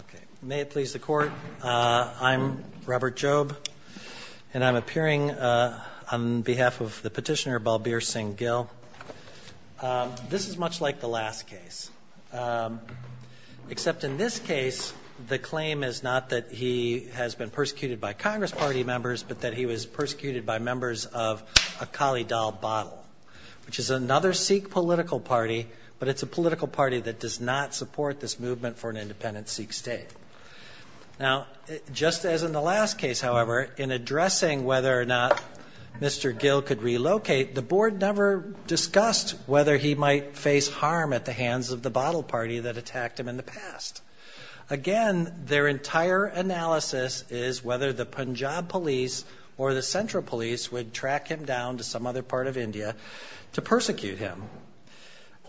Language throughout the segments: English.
Okay, may it please the court. I'm Robert Jobe and I'm appearing on behalf of the petitioner Balbir Singh Gill. This is much like the last case, except in this case the claim is not that he has been persecuted by Congress Party members, but that he was persecuted by members of Akali Dal Bottle, which is another Sikh political party, but it's a political party that does not support this movement for an independent Sikh state. Now, just as in the last case, however, in addressing whether or not Mr. Gill could relocate, the board never discussed whether he might face harm at the hands of the bottle party that attacked him in the past. Again, their entire analysis is whether the Punjab police or the central police would track him down to some other part of India to persecute him.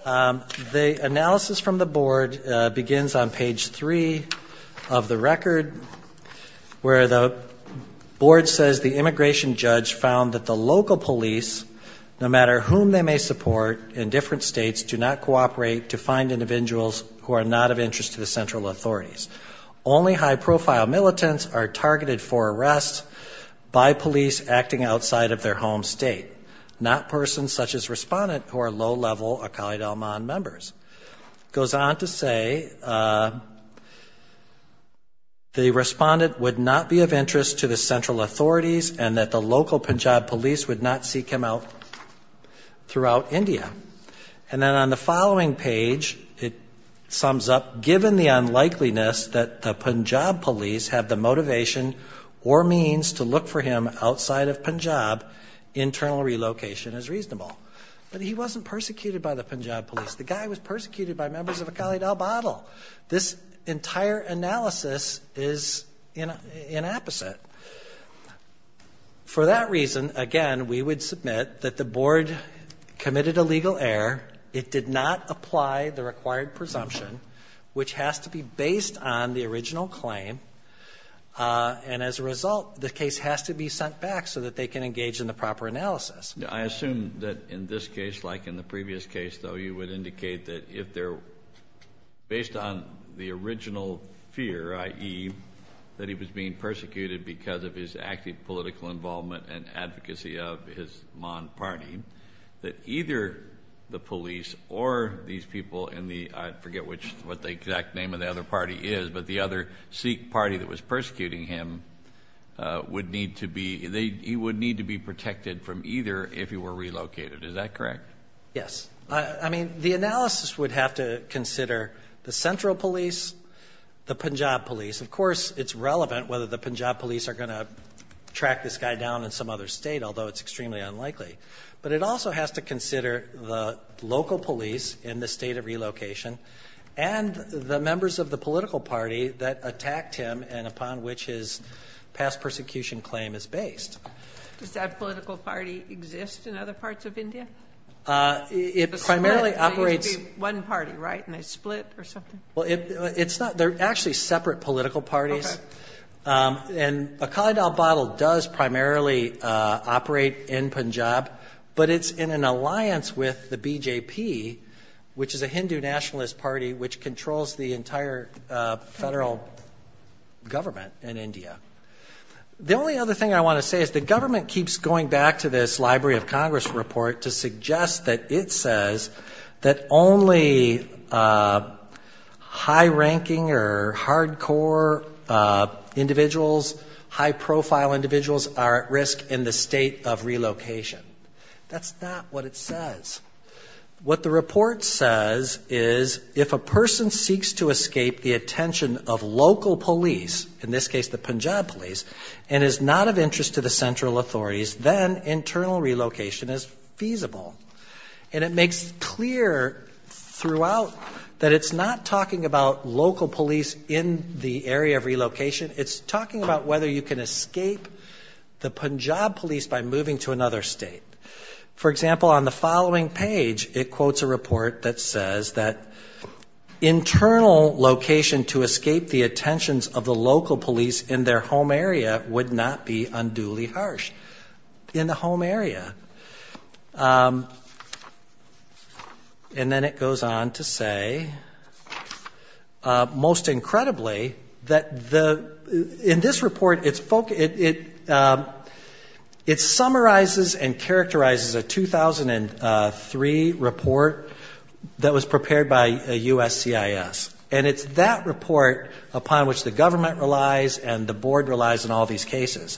The analysis from the board begins on page 3 of the record where the board says the immigration judge found that the local police, no matter whom they may support in different states, do not cooperate to find individuals who are not of interest to the central authorities. Only high-profile militants are targeted for arrest by police acting outside of their home state, not persons such as respondents who are low-level Akali Dalmand members. It goes on to say the respondent would not be of interest to the central authorities and that the local Punjab police would not seek him out throughout India. And then on the following page it sums up, given the unlikeliness that the Punjab police have the motivation or means to look for him outside of Punjab, internal relocation is reasonable. But he wasn't persecuted by the Punjab police. The guy was persecuted by members of Akali Dal bottle. This entire analysis is inapposite. For that reason, again, we would submit that the board committed a legal error. It did not apply the required presumption, which has to be based on the original claim. And as a result, the case has to be sent back so that they can engage in the proper analysis. I assume that in this case, like in the previous case, though, you would indicate that if they're based on the original fear, i.e., that he was being persecuted because of his active political involvement and advocacy of his Mon party, that either the police or these people in the, I forget what the exact name of the other party is, but the other Sikh party that was persecuting him would need to be, he would need to be protected from either if he were relocated. Is that correct? Yes. I mean, the analysis would have to consider the central police, the Punjab police. Of course, it's relevant whether the Punjab police are going to track this guy down in some other state, although it's extremely unlikely. But it also has to consider the local police in the state of relocation and the members of the political party that attacked him and upon which his past persecution claim is based. Does that political party exist in other parts of India? It primarily operates. One party, right? And they split or something? Well, it's not. They're actually separate political parties. And Akhali Dal Bottle does primarily operate in Punjab, but it's in an alliance with the BJP, which is a Hindu nationalist party which controls the entire federal government in India. The only other thing I want to say is the government keeps going back to this Library of Congress report to suggest that it says that only high-ranking or hardcore individuals, high-profile individuals, are at risk in the state of relocation. That's not what it says. What the report says is if a person seeks to escape the attention of local police, in this case the Punjab police, and is not of interest to the central authorities, then internal relocation is feasible. And it makes clear throughout that it's not talking about local police in the area of relocation. It's talking about whether you can escape the Punjab police by moving to another state. For example, on the following page, it quotes a report that says that internal location to escape the attentions of the local police in their home area would not be unduly harsh. In the home area. And then it goes on to say, most incredibly, that in this report, it summarizes and characterizes a 2003 report that was prepared by USCIS. And it's that report upon which the government relies and the board relies in all these cases.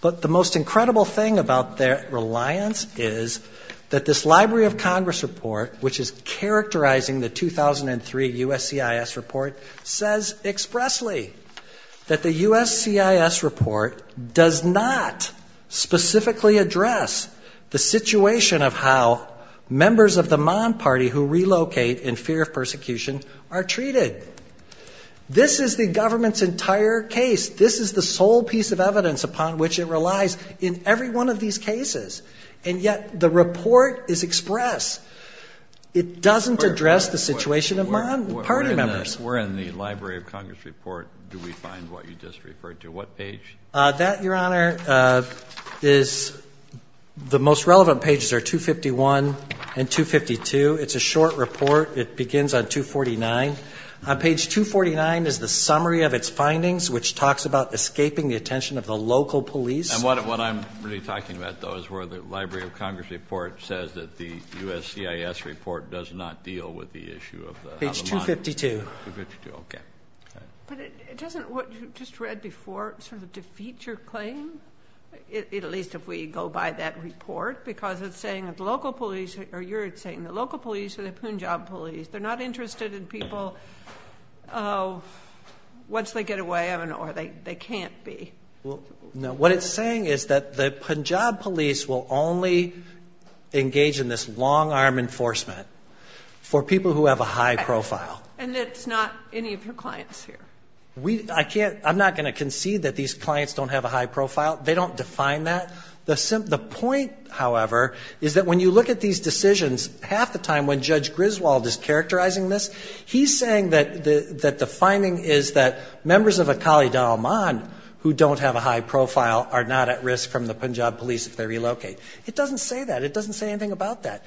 But the most incredible thing about their reliance is that this Library of Congress report, which is characterizing the 2003 USCIS report, says expressly that the USCIS report does not specifically address the situation of how members of the Mon party who relocate in fear of persecution are treated. This is the government's entire case. This is the sole piece of evidence upon which it relies in every one of these cases. And yet the report is express. It doesn't address the situation of Mon party members. Where in the Library of Congress report do we find what you just referred to? That, Your Honor, is the most relevant pages are 251 and 252. It's a short report. It begins on 249. Page 249 is the summary of its findings, which talks about escaping the attention of the local police. And what I'm really talking about, though, is where the Library of Congress report says that the USCIS report does not deal with the issue of the Mon. Page 252. 252. Okay. But doesn't what you just read before sort of defeat your claim, at least if we go by that report? Because it's saying that the local police, or you're saying the local police or the Punjab police, they're not interested in people once they get away, or they can't be. Well, no. What it's saying is that the Punjab police will only engage in this long-arm enforcement for people who have a high profile. And it's not any of your clients here? I'm not going to concede that these clients don't have a high profile. They don't define that. The point, however, is that when you look at these decisions, half the time when Judge Griswold is characterizing this, he's saying that the finding is that members of Akali Daulman who don't have a high profile are not at risk from the Punjab police if they relocate. It doesn't say that. It doesn't say anything about that.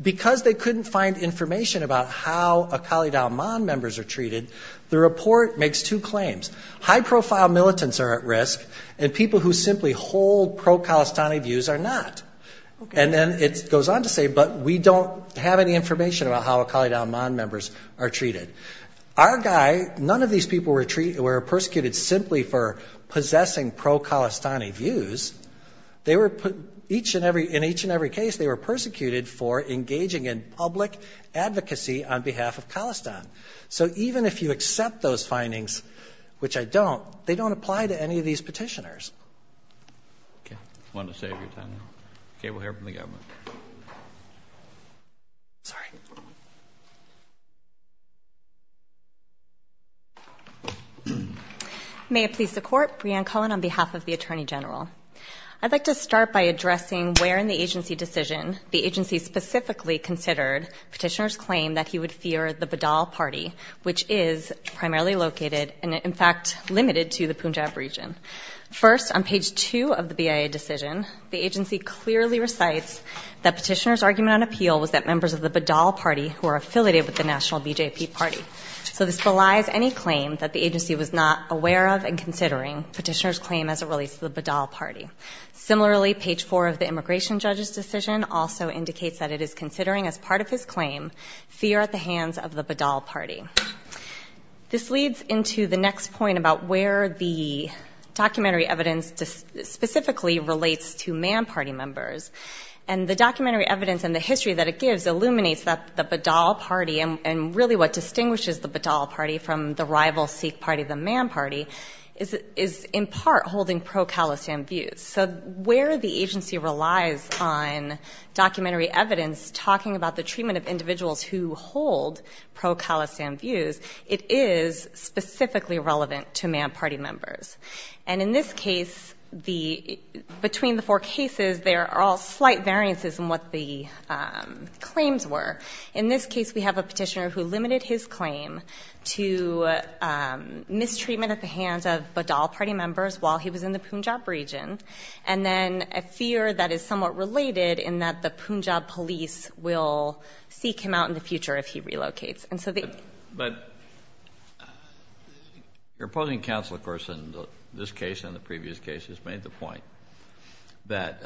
Because they couldn't find information about how Akali Daulman members are treated, the report makes two claims. High profile militants are at risk, and people who simply hold pro-Khalistani views are not. And then it goes on to say, but we don't have any information about how Akali Daulman members are treated. Our guy, none of these people were persecuted simply for possessing pro-Khalistani views. In each and every case, they were persecuted for engaging in public advocacy on behalf of Khalistan. So even if you accept those findings, which I don't, they don't apply to any of these petitioners. Okay. I wanted to save your time. Okay, we'll hear from the government. Sorry. May it please the Court. Brianne Cohen on behalf of the Attorney General. I'd like to start by addressing where in the agency decision the agency specifically considered petitioner's claim that he would fear the Badal party, which is primarily located and, in fact, limited to the Punjab region. First, on page 2 of the BIA decision, the agency clearly recites that petitioner's argument on appeal was that members of the Badal party who are affiliated with the national BJP party. So this belies any claim that the agency was not aware of and considering petitioner's claim as it relates to the Badal party. Similarly, page 4 of the immigration judge's decision also indicates that it is considering as part of his claim fear at the hands of the Badal party. This leads into the next point about where the documentary evidence specifically relates to man party members. And the documentary evidence and the history that it gives illuminates that the Badal party, and really what distinguishes the Badal party from the rival Sikh party, the man party, is in part holding pro-Khalistan views. So where the agency relies on documentary evidence talking about the treatment of individuals who hold pro-Khalistan views, it is specifically relevant to man party members. And in this case, between the four cases, there are all slight variances in what the claims were. In this case, we have a petitioner who limited his claim to mistreatment at the hands of Badal party members while he was in the Punjab region, and then a fear that is somewhat related in that the Punjab police will seek him out in the future if he relocates. But your opposing counsel, of course, in this case and the previous cases, made the point that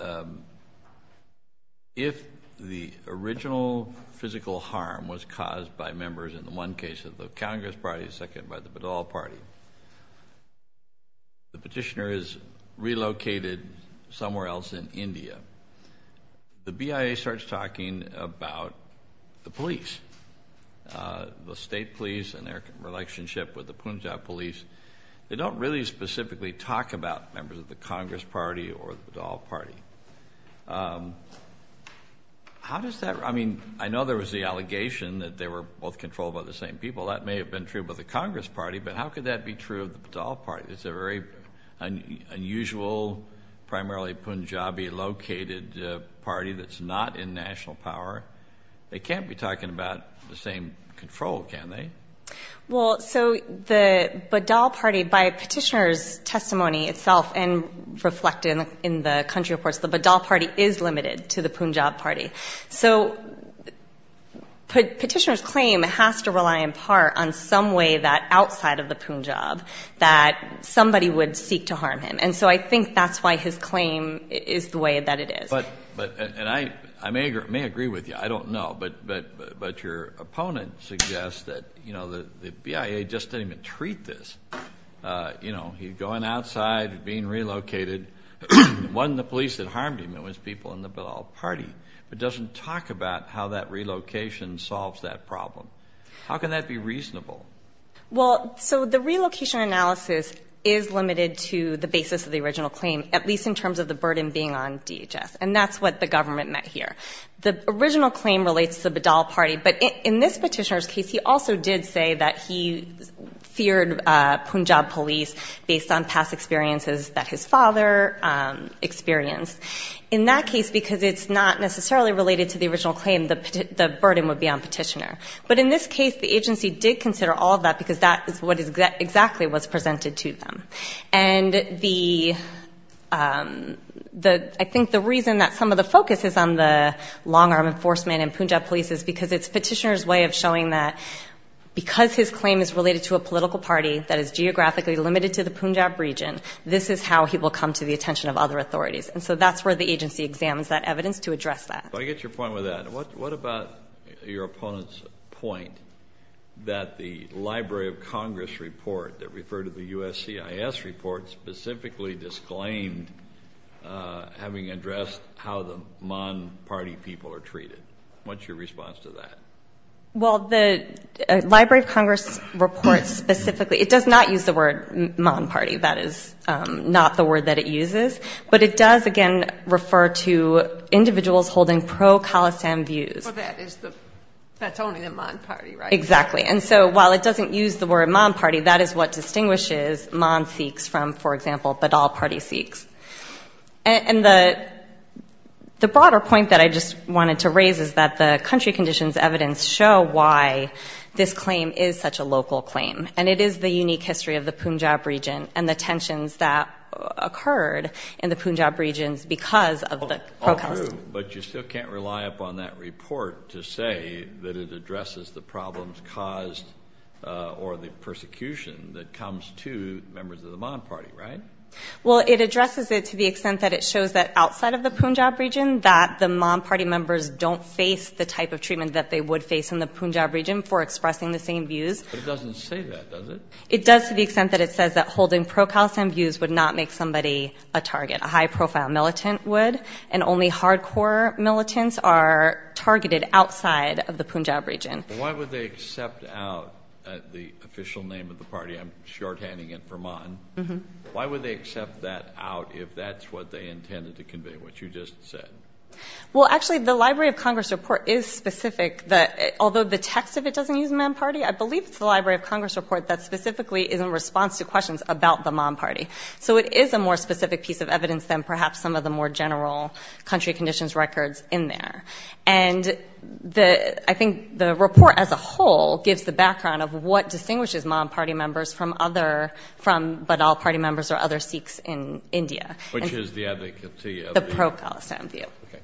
if the original physical harm was caused by members, in the one case of the Congress party, the second by the Badal party, the petitioner is relocated somewhere else in India, the BIA starts talking about the police, the state police and their relationship with the Punjab police. They don't really specifically talk about members of the Congress party or the Badal party. How does that – I mean, I know there was the allegation that they were both controlled by the same people. That may have been true of the Congress party, but how could that be true of the Badal party? It's a very unusual, primarily Punjabi-located party that's not in national power. They can't be talking about the same control, can they? Well, so the Badal party, by petitioner's testimony itself and reflected in the country reports, the Badal party is limited to the Punjab party. So petitioner's claim has to rely in part on some way that outside of the Punjab that somebody would seek to harm him. And so I think that's why his claim is the way that it is. But – and I may agree with you. I don't know. But your opponent suggests that, you know, the BIA just didn't even treat this. You know, he's going outside and being relocated. It wasn't the police that harmed him. It was people in the Badal party. It doesn't talk about how that relocation solves that problem. How can that be reasonable? Well, so the relocation analysis is limited to the basis of the original claim, at least in terms of the burden being on DHS. And that's what the government meant here. The original claim relates to the Badal party, but in this petitioner's case, he also did say that he feared Punjab police based on past experiences that his father experienced. In that case, because it's not necessarily related to the original claim, the burden would be on petitioner. But in this case, the agency did consider all of that because that is what exactly was presented to them. And the – I think the reason that some of the focus is on the long-arm enforcement and Punjab police is because it's petitioner's way of showing that because his claim is related to a political party that is geographically limited to the Punjab region, this is how he will come to the attention of other authorities. And so that's where the agency examines that evidence to address that. I get your point with that. What about your opponent's point that the Library of Congress report that referred to the USCIS report specifically disclaimed having addressed how the Mon party people are treated? What's your response to that? Well, the Library of Congress report specifically – it does not use the word Mon party. That is not the word that it uses. But it does, again, refer to individuals holding pro-Khalasam views. Well, that is the – that's only the Mon party, right? Exactly. And so while it doesn't use the word Mon party, that is what distinguishes Mon Sikhs from, for example, Badal party Sikhs. And the broader point that I just wanted to raise is that the country conditions evidence show why this claim is such a local claim. And it is the unique history of the Punjab region and the tensions that occurred in the Punjab regions because of the pro-Khalasam. But you still can't rely upon that report to say that it addresses the problems caused or the persecution that comes to members of the Mon party, right? Well, it addresses it to the extent that it shows that outside of the Punjab region that the Mon party members don't face the type of treatment that they would face in the Punjab region for expressing the same views. But it doesn't say that, does it? It does to the extent that it says that holding pro-Khalasam views would not make somebody a target. A high-profile militant would. And only hardcore militants are targeted outside of the Punjab region. Why would they accept out the official name of the party? I'm shorthanding it for Mon. Mm-hmm. Why would they accept that out if that's what they intended to convey, what you just said? Well, actually, the Library of Congress report is specific. Although the text of it doesn't use Mon party, I believe it's the Library of Congress report that specifically is in response to questions about the Mon party. So it is a more specific piece of evidence than perhaps some of the more general country conditions records in there. And the ‑‑ I think the report as a whole gives the background of what distinguishes Mon party members from other ‑‑ from Badaw party members or other Sikhs in India. Which is the advocacy of the ‑‑ The pro-Khalasam view. Okay.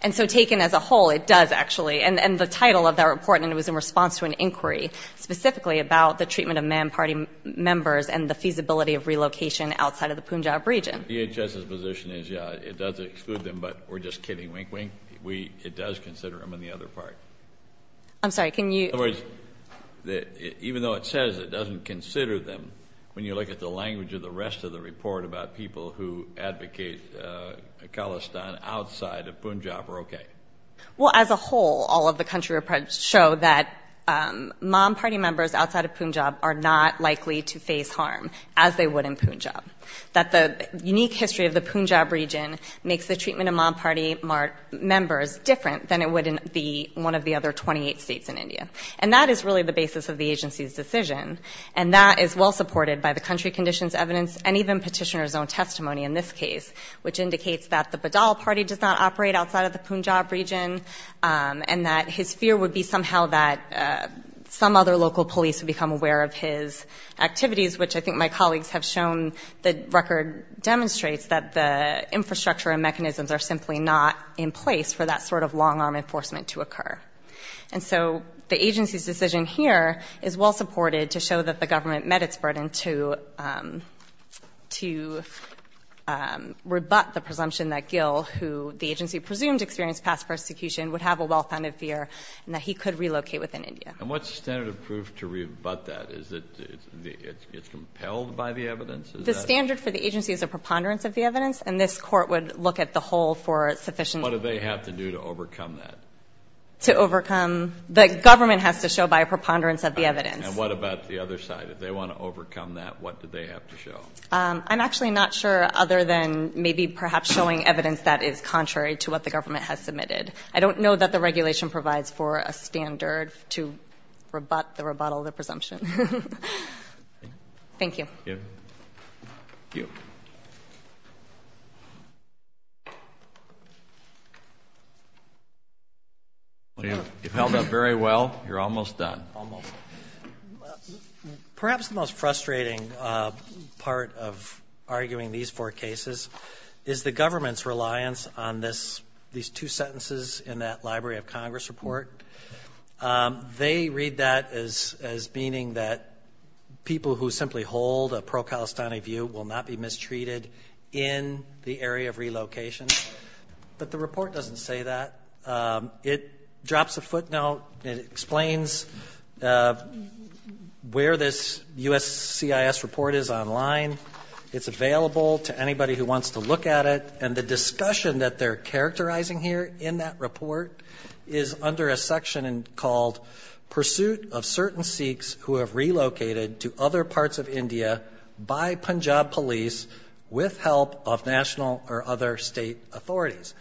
And so taken as a whole, it does actually. And the title of that report was in response to an inquiry specifically about the treatment of Mon party members and the feasibility of relocation outside of the Punjab region. DHS's position is, yeah, it does exclude them, but we're just kidding. Wink, wink. It does consider them in the other part. I'm sorry. Can you ‑‑ In other words, even though it says it doesn't consider them, when you look at the language of the rest of the report about people who advocate Khalistan outside of Punjab are okay. Well, as a whole, all of the country reports show that Mon party members outside of Punjab are not likely to face harm as they would in Punjab. That the unique history of the Punjab region makes the treatment of Mon party members different than it would in one of the other 28 states in India. And that is really the basis of the agency's decision. And that is well supported by the country conditions evidence and even petitioner's own testimony in this case. Which indicates that the Badaw party does not operate outside of the Punjab region. And that his fear would be somehow that some other local police would become aware of his activities. Which I think my colleagues have shown the record demonstrates that the infrastructure and mechanisms are simply not in place for that sort of long‑arm enforcement to occur. And so the agency's decision here is well supported to show that the government met its burden to rebut the presumption that Gil, who the agency presumed experienced past persecution, would have a well‑founded fear that he could relocate within India. And what's the standard of proof to rebut that? Is it compelled by the evidence? The standard for the agency is a preponderance of the evidence. And this court would look at the whole for sufficient ‑‑ What do they have to do to overcome that? To overcome? The government has to show by a preponderance of the evidence. And what about the other side? If they want to overcome that, what do they have to show? I'm actually not sure other than maybe perhaps showing evidence that is contrary to what the government has submitted. I don't know that the regulation provides for a standard to rebut the rebuttal of the presumption. Thank you. Thank you. You've held up very well. You're almost done. Almost. Perhaps the most frustrating part of arguing these four cases is the government's reliance on these two sentences in that Library of Congress report. They read that as meaning that people who simply hold a pro‑Kalistani view will not be mistreated in the area of relocation. But the report doesn't say that. It drops a footnote. It explains where this USCIS report is online. It's available to anybody who wants to look at it. And the discussion that they're characterizing here in that report is under a section called Pursuit of Certain Sikhs Who Have Relocated to Other Parts of India by Punjab Police with Help of National or Other State Authorities.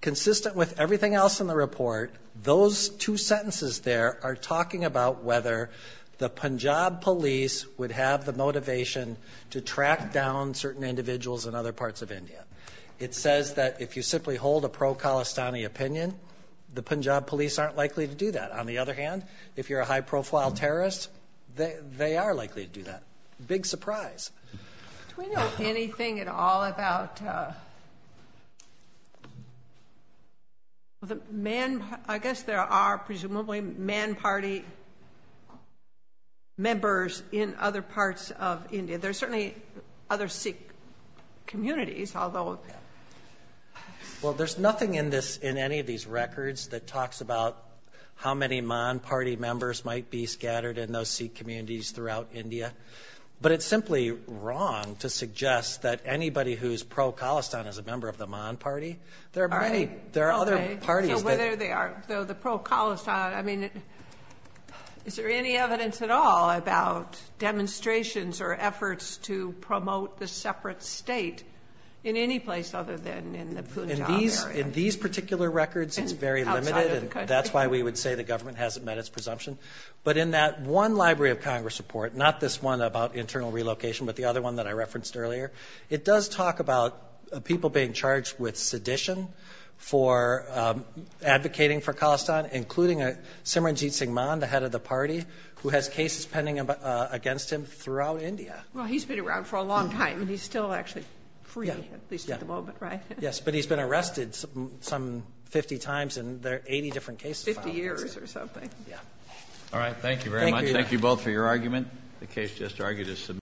Consistent with everything else in the report, those two sentences there are talking about whether the Punjab police would have the motivation to track down certain individuals in other parts of India. It says that if you simply hold a pro‑Kalistani opinion, the Punjab police aren't likely to do that. On the other hand, if you're a high‑profile terrorist, they are likely to do that. Big surprise. Do we know anything at all about ‑‑ I guess there are presumably Mann Party members in other parts of India. There are certainly other Sikh communities, although ‑‑ Well, there's nothing in any of these records that talks about how many Mann Party members might be scattered in those Sikh communities throughout India. But it's simply wrong to suggest that anybody who's pro‑Kalistan is a member of the Mann Party. There are many. There are other parties. So whether they are, though, the pro‑Kalistan, I mean, is there any evidence at all about demonstrations or efforts to promote the separate state in any place other than in the Punjab area? In these particular records, it's very limited. And that's why we would say the government hasn't met its presumption. But in that one Library of Congress report, not this one about internal relocation, but the other one that I referenced earlier, it does talk about people being charged with sedition for advocating for Kalistan, including Simranjit Singh Mann, the head of the party, who has cases pending against him throughout India. Well, he's been around for a long time, and he's still actually free at least at the moment, right? Yes, but he's been arrested some 50 times, and there are 80 different cases. 50 years or something. All right. Thank you very much. Thank you both for your argument. The case just argued is submitted.